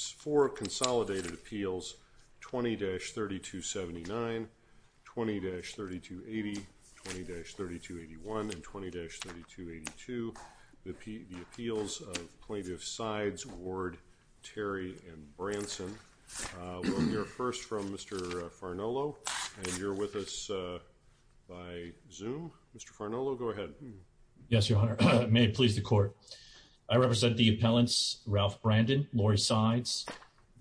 for Consolidated Appeals 20-3279, 20-3280, 20-3281, and 20-3282, the Appeals of Plaintiff Sides, Ward, Terry, and Branson. We'll hear first from Mr. Farnolo, and you're with us by Zoom. Mr. Farnolo, go ahead. Yes, Your Honor. May it please the Court. I represent the appellants Ralph Brandon, Lori Sides,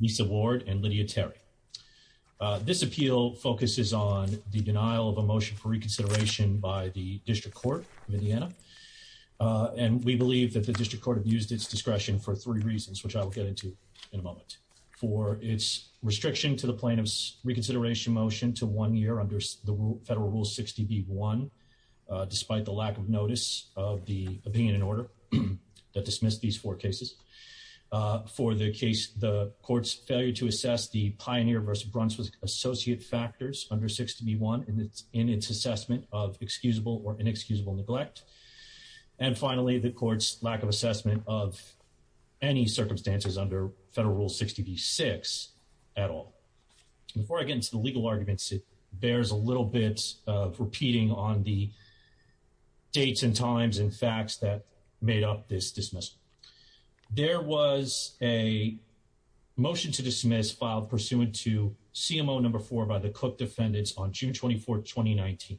Misa Ward, and Lydia Terry. This appeal focuses on the denial of a motion for reconsideration by the District Court of Indiana, and we believe that the District Court abused its discretion for three reasons, which I will get into in a moment. For its restriction to the plaintiff's reconsideration motion to one year under the Federal Rule 60b-1, despite the lack of for the case, the Court's failure to assess the Pioneer v. Brunson associate factors under 60b-1 in its assessment of excusable or inexcusable neglect, and finally, the Court's lack of assessment of any circumstances under Federal Rule 60b-6 at all. Before I get into the legal arguments, it bears a little bit of repeating on the dates and times and facts that made up this a motion to dismiss filed pursuant to CMO No. 4 by the Cook defendants on June 24, 2019.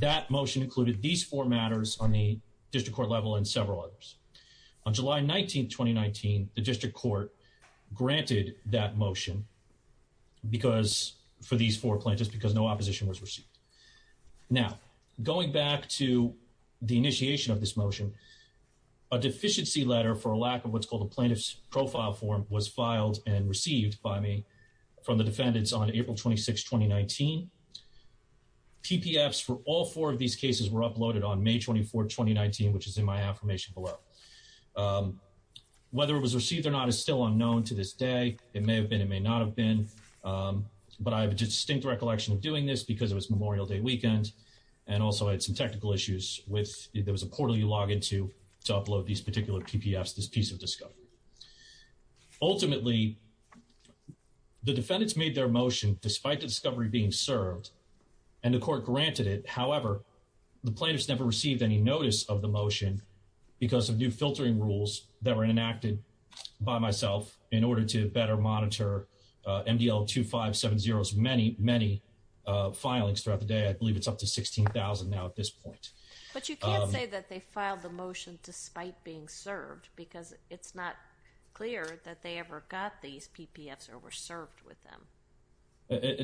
That motion included these four matters on the District Court level and several others. On July 19, 2019, the District Court granted that motion for these four plaintiffs because no opposition was received. Now, going back to the initiation of this motion, a deficiency letter for a lack of what's called a plaintiff's profile form was filed and received by me from the defendants on April 26, 2019. PPFs for all four of these cases were uploaded on May 24, 2019, which is in my affirmation below. Whether it was received or not is still unknown to this day. It may have been, it may not have been, but I have a distinct recollection of doing this because it was Memorial Day weekend and also had some technical issues with, there was a portal you log into to upload these particular PPFs, this piece of discovery. Ultimately, the defendants made their motion despite the discovery being served and the court granted it. However, the plaintiffs never received any notice of the motion because of new filtering rules that were enacted by myself in order to better monitor MDL 2570's many, many filings throughout the day. I believe it's up to 16,000 now at this point. But you can't say that they filed the motion despite being served because it's not clear that they ever got these PPFs or were served with them.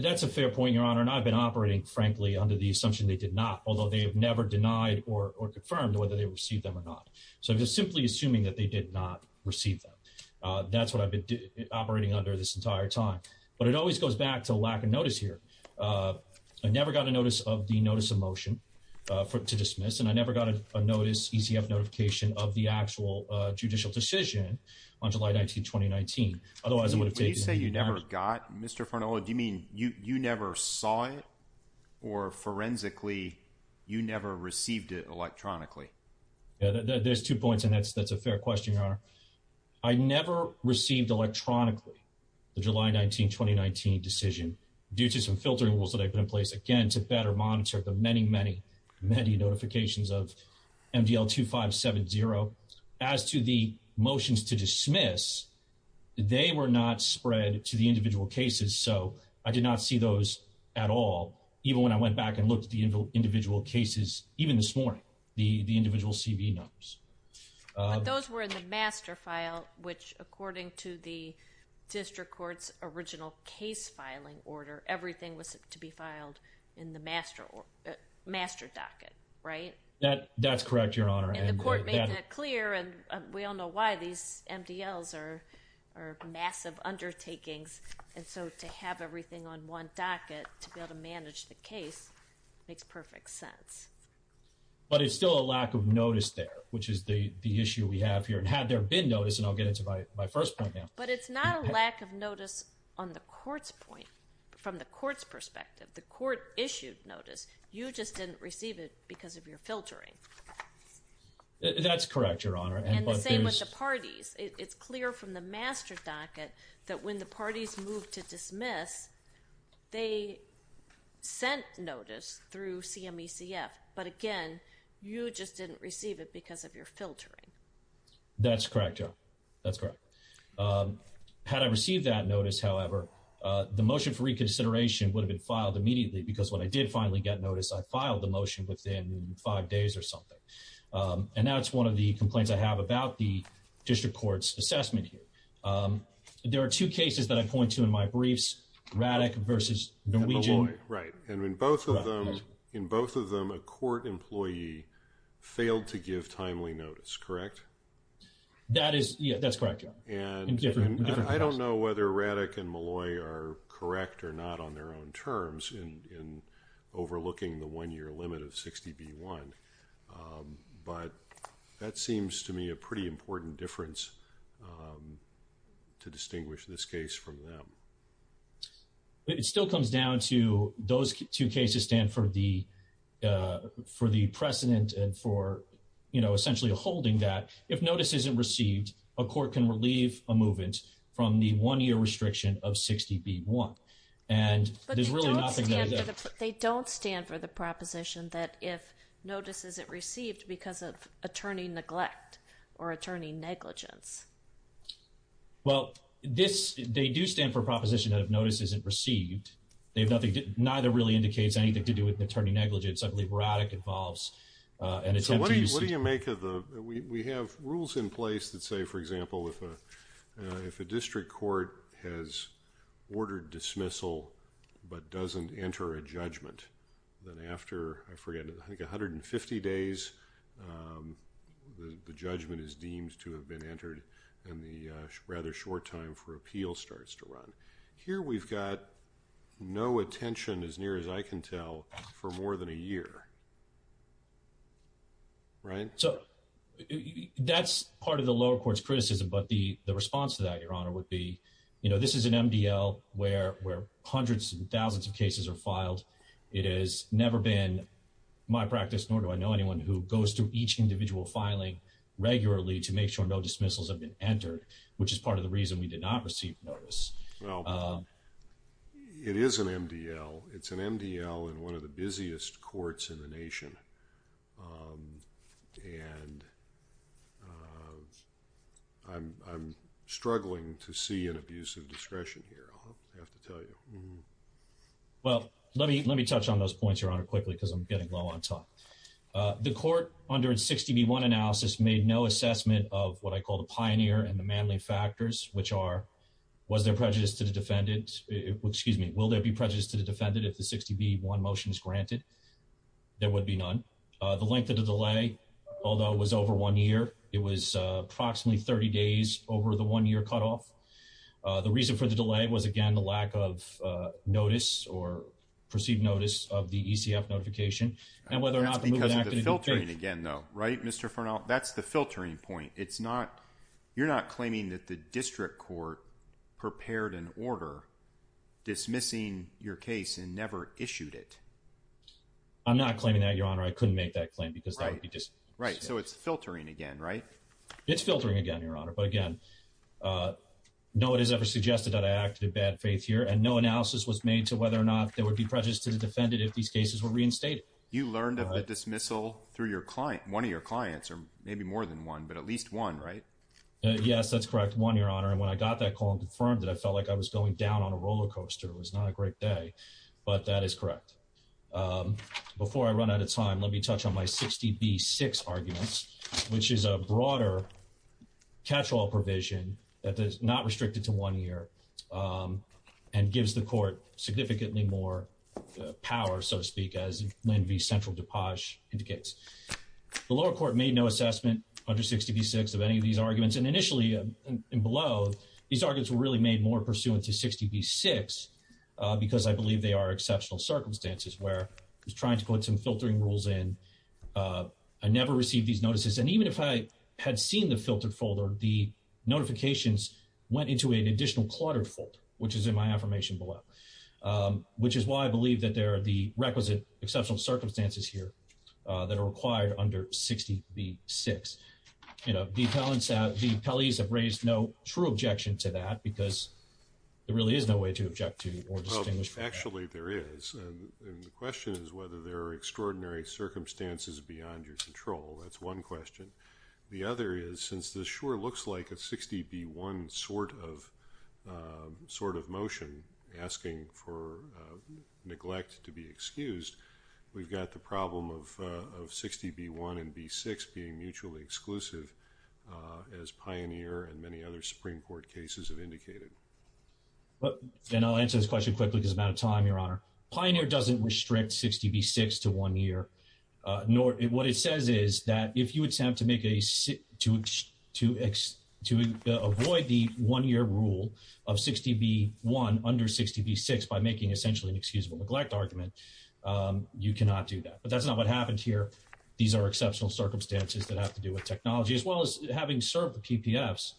That's a fair point, Your Honor, and I've been operating, frankly, under the assumption they did not, although they have never denied or confirmed whether they received them or not. So I'm just simply assuming that they did not receive them. That's what I've been operating under this entire time. But it always goes back to lack of notice here. I never got a notice of the notice of motion to dismiss, and I never got a notice, ECF notification, of the actual judicial decision on July 19, 2019. Otherwise, it would have taken- When you say you never got, Mr. Fernando, do you mean you never saw it or, forensically, you never received it electronically? There's two points, and that's a fair question, Your Honor. I never received electronically the July 19, 2019 decision due to some filtering rules that I put in place, again, to better monitor the many, many, many notifications of MDL 2570. As to the motions to dismiss, they were not spread to the individual cases. So I did not see those at all, even when I went back and looked at the individual cases, even this morning, the individual CV numbers. But those were in the master file, which, according to the district court's original case filing order, everything was to be filed in the master docket, right? That's correct, Your Honor. And the court made that clear, and we all know why. These MDLs are massive undertakings, and so to have everything on one docket to be able to manage the case makes perfect sense. But it's still a lack of notice there, which is the issue we have here. And had there been notice, and I'll get into my first point now- But it's not a lack of notice on the court's point, from the court's perspective. The court issued notice. You just didn't receive it because of your filtering. That's correct, Your Honor. And the same with the parties. It's clear from the master docket that when the parties moved to dismiss, they sent notice through CMECF. But again, you just didn't receive it because of your filtering. That's correct, Your Honor. That's correct. Had I received that notice, however, the motion for reconsideration would have been filed immediately, because when I did finally get notice, I filed the motion within five days or something. And that's one of the complaints I have about the district court's assessment here. There are two cases that I point to in my briefs, Raddick versus Molloy. Right. And in both of them, a court employee failed to give timely notice, correct? That is, yeah, that's correct, Your Honor. In different cases. I don't know whether Raddick and Molloy are correct or not on their own terms in overlooking the one-year limit of 60B1. But that seems to me a pretty important difference to distinguish this case from them. It still comes down to those two cases stand for the precedent and for, you know, essentially holding that if notice isn't received, a court can relieve a movement from the one-year restriction of 60B1. And there's really nothing there. They don't stand for the proposition that if notice isn't received because of attorney neglect or attorney negligence. Well, this, they do stand for proposition that if notice isn't received, they have nothing, neither really indicates anything to do with attorney negligence. I believe Raddick involves an attempt to use it. So what do you make of the, we have rules in place that say, for example, if a district court has ordered dismissal but doesn't enter a judgment, then after, I forget, I think 150 days, the judgment is deemed to have been entered and the rather short time for appeal starts to run. Here we've got no attention as near as I can tell for more than a year. Right? So that's part of the lower court's criticism. But the response to that, Your Honor, would be this is an MDL where hundreds and thousands of cases are filed. It has never been my practice, nor do I know anyone who goes through each individual filing regularly to make sure no dismissals have been entered, which is part of the reason we did not receive notice. It is an MDL. It's an MDL in one of the busiest courts in the nation. And I'm struggling to see an abuse of discretion here, I'll have to tell you. Well, let me touch on those points, Your Honor, quickly because I'm getting low on time. The court under 60B1 analysis made no assessment of what I call the pioneer and the manly factors, which are, was there prejudice to the defendant? Excuse me, will there be prejudice to the defendant if the 60B1 motion is granted? There would be none. The length of the delay, although it was over one year, it was approximately 30 days over the one-year cutoff. The reason for the delay was, again, the lack of notice or perceived notice of the ECF notification. And whether or not the move was acted in faith. That's because of the filtering again, though, right, Mr. Fernald? That's the filtering point. You're not claiming that the district court prepared an order dismissing your case and I'm not claiming that, Your Honor. I couldn't make that claim because that would be just... Right, so it's filtering again, right? It's filtering again, Your Honor. But again, no, it is ever suggested that I acted in bad faith here and no analysis was made to whether or not there would be prejudice to the defendant if these cases were reinstated. You learned of a dismissal through your client, one of your clients, or maybe more than one, but at least one, right? Yes, that's correct. One, Your Honor. And when I got that call and confirmed that I felt like I was going down on a roller coaster, it was not a great day, but that is correct. Before I run out of time, let me touch on my 60B6 arguments, which is a broader catch-all provision that is not restricted to one year and gives the court significantly more power, so to speak, as Lynn v. Central DuPage indicates. The lower court made no assessment under 60B6 of any of these arguments. And initially, below, these arguments were really made more pursuant to 60B6 because I believe they are exceptional circumstances where I was trying to put some filtering rules in, I never received these notices, and even if I had seen the filtered folder, the notifications went into an additional cluttered folder, which is in my affirmation below, which is why I believe that there are the requisite exceptional circumstances here that are required under 60B6. You know, the appellees have raised no true objection to that because there really is no way to object to or distinguish from that. Actually, there is. And the question is whether there are extraordinary circumstances beyond your control. That's one question. The other is, since this sure looks like a 60B1 sort of motion asking for neglect to be excused, we've got the problem of 60B1 and B6 being mutually exclusive, as Pioneer and many other Supreme Court cases have indicated. And I'll answer this question quickly because I'm out of time, Your Honor. Pioneer doesn't restrict 60B6 to one year. What it says is that if you attempt to avoid the one-year rule of 60B1 under 60B6 by making essentially an excusable neglect argument, you cannot do that. But that's not what happened here. These are exceptional circumstances that have to do with technology, as well as having served the PPFs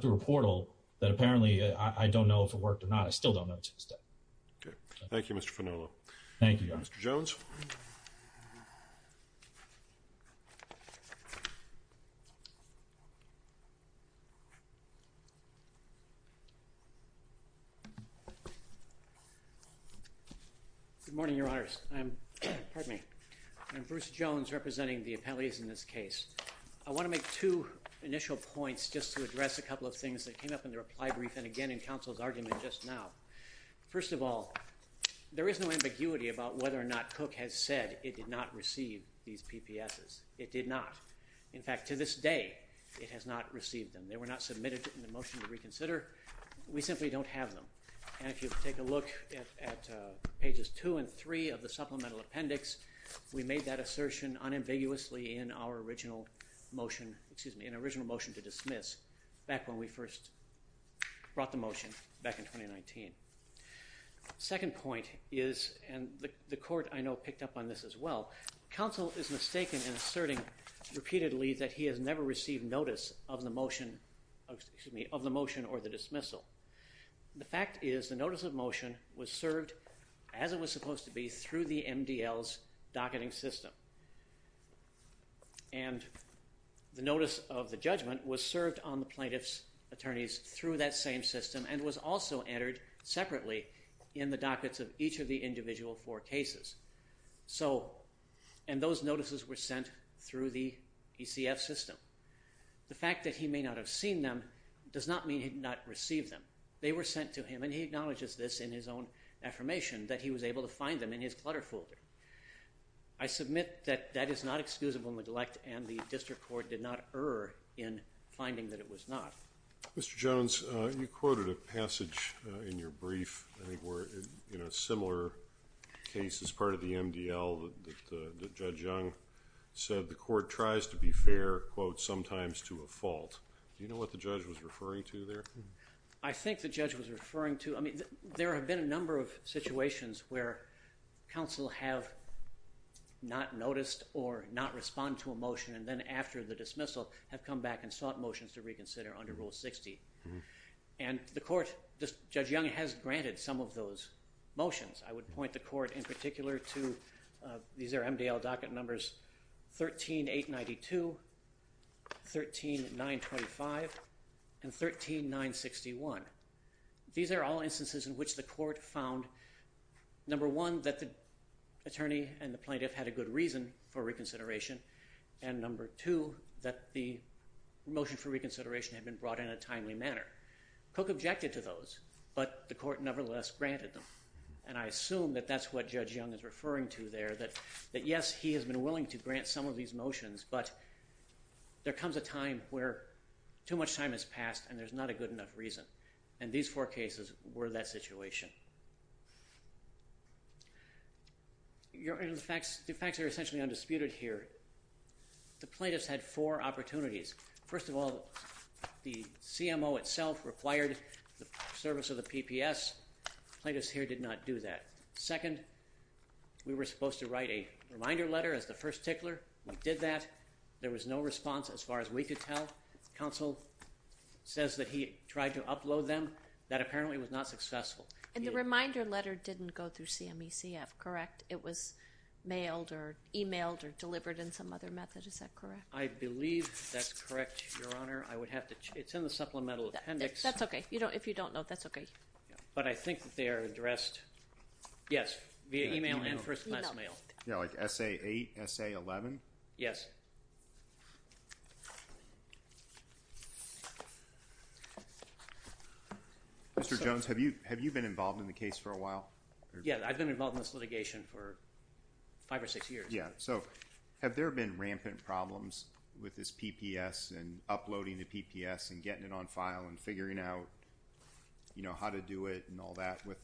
through a portal that apparently I don't know if it worked or not. I still don't know to this day. Okay. Thank you, Mr. Fanola. Thank you, Your Honor. Mr. Jones. Good morning, Your Honors. Pardon me. I'm Bruce Jones representing the appellees in this case. I want to make two initial points just to address a couple of things that came up in the reply brief and again in counsel's argument just now. First of all, there is no ambiguity about whether or not Cook has said it did not receive these PPSs. It did not. In fact, to this day, it has not received them. They were not submitted in the motion to reconsider. We simply don't have them. And if you take a look at pages two and three of the supplemental appendix, we made that assertion unambiguously in our original motion, excuse me, an original motion to dismiss back when we first brought the motion back in 2019. Second point is, and the court I know picked up on this as well, counsel is mistaken in asserting repeatedly that he has never received notice of the motion, excuse me, of the motion or the dismissal. The fact is the notice of motion was served as it was supposed to be through the MDL's docketing system. And the notice of the judgment was served on the plaintiff's attorneys through that same system and was also entered separately in the dockets of each of the individual four cases. And those notices were sent through the ECF system. The fact that he may not have seen them does not mean he did not receive them. They were sent to him and he acknowledges this in his own affirmation that he was able to find them in his clutter folder. I submit that that is not excusable neglect and the district court did not err in finding that it was not. Mr. Jones, you quoted a passage in your brief I think we're in a similar case as part of the MDL that Judge Young said the court tries to be fair, quote, sometimes to a fault. Do you know what the judge was referring to there? I think the judge was referring to, I mean, there have been a number of situations where counsel have not noticed or not respond to a motion and then after the dismissal have come back and sought motions to reconsider under Rule 60. And the court, Judge Young has granted some of those motions. I would point the court in particular to, these are MDL docket numbers 13-892, 13-925, and 13-961. These are all instances in which the court found number one, that the attorney and the plaintiff had a good reason for reconsideration. And number two, that the motion for reconsideration had been brought in a timely manner. Cook objected to those, but the court nevertheless granted them. And I assume that that's what Judge Young is referring to there that yes, he has been willing to grant some of these motions, but there comes a time where too much time has passed and there's not a good enough reason. And these four cases were that situation. The facts are essentially undisputed here. The plaintiffs had four opportunities. First of all, the CMO itself required the service of the PPS. Plaintiffs here did not do that. Second, we were supposed to write a reminder letter as the first tickler. We did that. There was no response as far as we could tell. Counsel says that he tried to upload them. That apparently was not successful. And the reminder letter didn't go through CMECF, correct? It was mailed or emailed or delivered in some other method. Is that correct? I believe that's correct, Your Honor. It's in the supplemental appendix. That's okay. If you don't know, that's okay. But I think that they are addressed, yes, via email and first class mail. Yeah, like SA8, SA11? Yes. Mr. Jones, have you been involved in the case for a while? Yeah, I've been involved in this litigation for five or six years. Yeah, so have there been rampant problems with this PPS and uploading the PPS and getting it on file and figuring out how to do it and all that with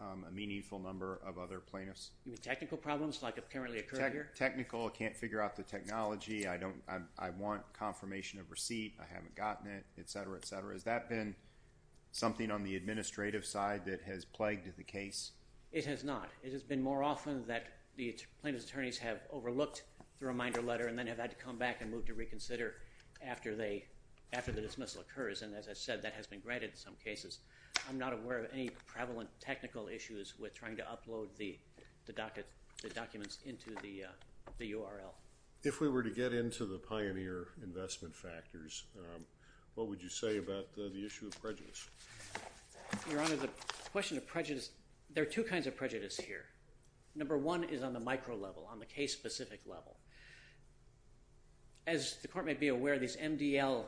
a meaningful number of other plaintiffs? You mean technical problems like have currently occurred here? Technical, I can't figure out the technology. I want confirmation of receipt. I haven't gotten it, et cetera, et cetera. Has that been something on the administrative side that has plagued the case? It has not. It has been more often that the plaintiff's attorneys have overlooked the reminder letter and then have had to come back and move to reconsider after the dismissal occurs. And as I said, that has been granted in some cases. I'm not aware of any prevalent technical issues with trying to upload the documents into the URL. If we were to get into the pioneer investment factors, what would you say about the issue of prejudice? Your Honor, the question of prejudice, there are two kinds of prejudice here. Number one is on the micro level, on the case-specific level. As the court may be aware, these MDL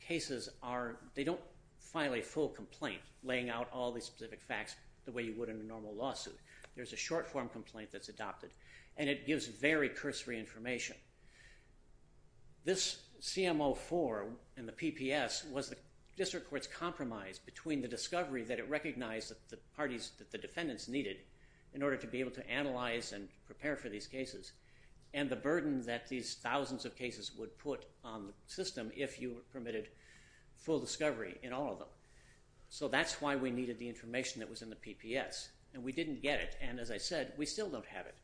cases are, they don't file a full complaint laying out all these specific facts the way you would in a normal lawsuit. There's a short-form complaint that's adopted and it gives very cursory information. This CMO-4 and the PPS was the district court's compromise between the discovery that it recognized that the parties, that the defendants needed in order to be able to analyze and prepare for these cases and the burden that these thousands of cases would put on the system if you permitted full discovery in all of them. So that's why we needed the information that was in the PPS and we didn't get it. And as I said, we still don't have it.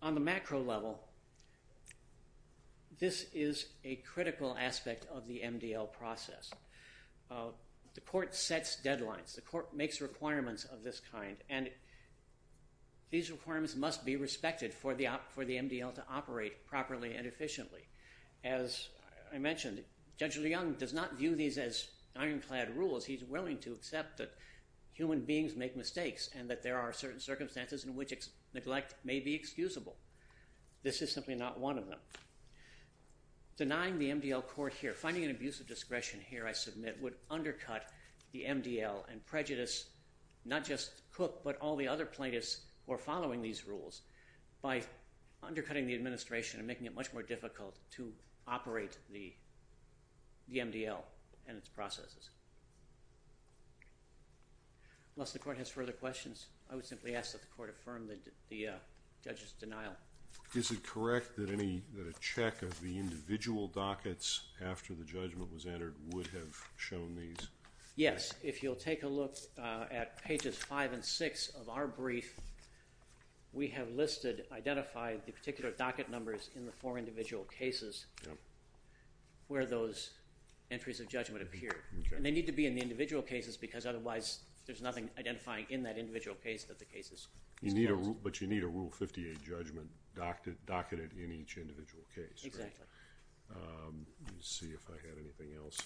On the macro level, this is a critical aspect of the MDL process. The court sets deadlines. The court makes requirements of this kind and these requirements must be respected for the MDL to operate properly and efficiently. As I mentioned, Judge Leung does not view these as ironclad rules. He's willing to accept that human beings make mistakes and that there are certain circumstances in which neglect may be excusable. This is simply not one of them. Denying the MDL court here, finding an abuse of discretion here, I submit, would undercut the MDL and prejudice not just Cook but all the other plaintiffs who are following these rules by undercutting the administration and making it much more difficult to operate the MDL and its processes. Unless the court has further questions, I would simply ask that the court affirm the judge's denial. Is it correct that a check of the individual dockets after the judgment was entered would have shown these? Yes. If you'll take a look at pages five and six of our brief, we have listed, identified the particular docket numbers in the four individual cases where those entries of judgment appear. And they need to be in the individual cases because otherwise there's nothing identifying in that individual case that the cases. You need a rule, but you need a rule 58 judgment docketed in each individual case. Exactly. Let me see if I had anything else.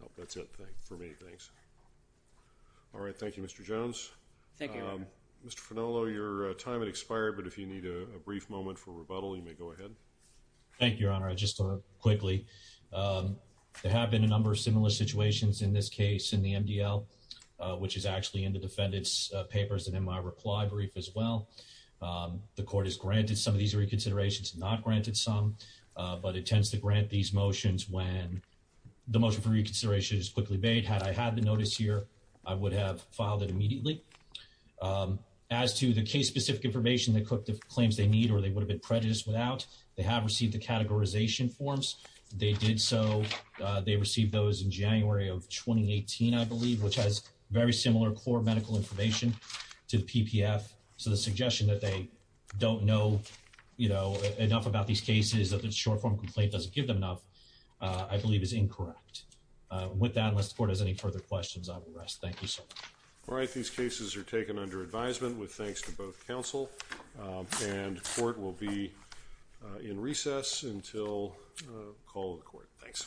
Nope, that's it for me. Thanks. All right. Thank you, Mr. Jones. Thank you. Mr. Fenolo, your time had expired, but if you need a brief moment for rebuttal, you may go ahead. Thank you, Your Honor. I just want to quickly, there have been a number of similar situations in this case in the MDL, which is actually in the defendant's papers and in my reply brief as well. The court has granted some of these reconsiderations, not granted some, but it tends to grant these motions when the motion for reconsideration is quickly made. Had I had the notice here, I would have filed it immediately. As to the case specific information claims they need, or they would have been prejudiced without, they have received the categorization forms. They did so. They received those in January of 2018, I believe, which has very similar core medical information to the PPF. So the suggestion that they don't know, you know, enough about these cases that the short form complaint doesn't give them enough, I believe is incorrect. With that, unless the court has any further questions, I will rest. Thank you, sir. All right. These cases are taken under advisement with thanks to both counsel. And the court will be in recess until call of the court. Thanks.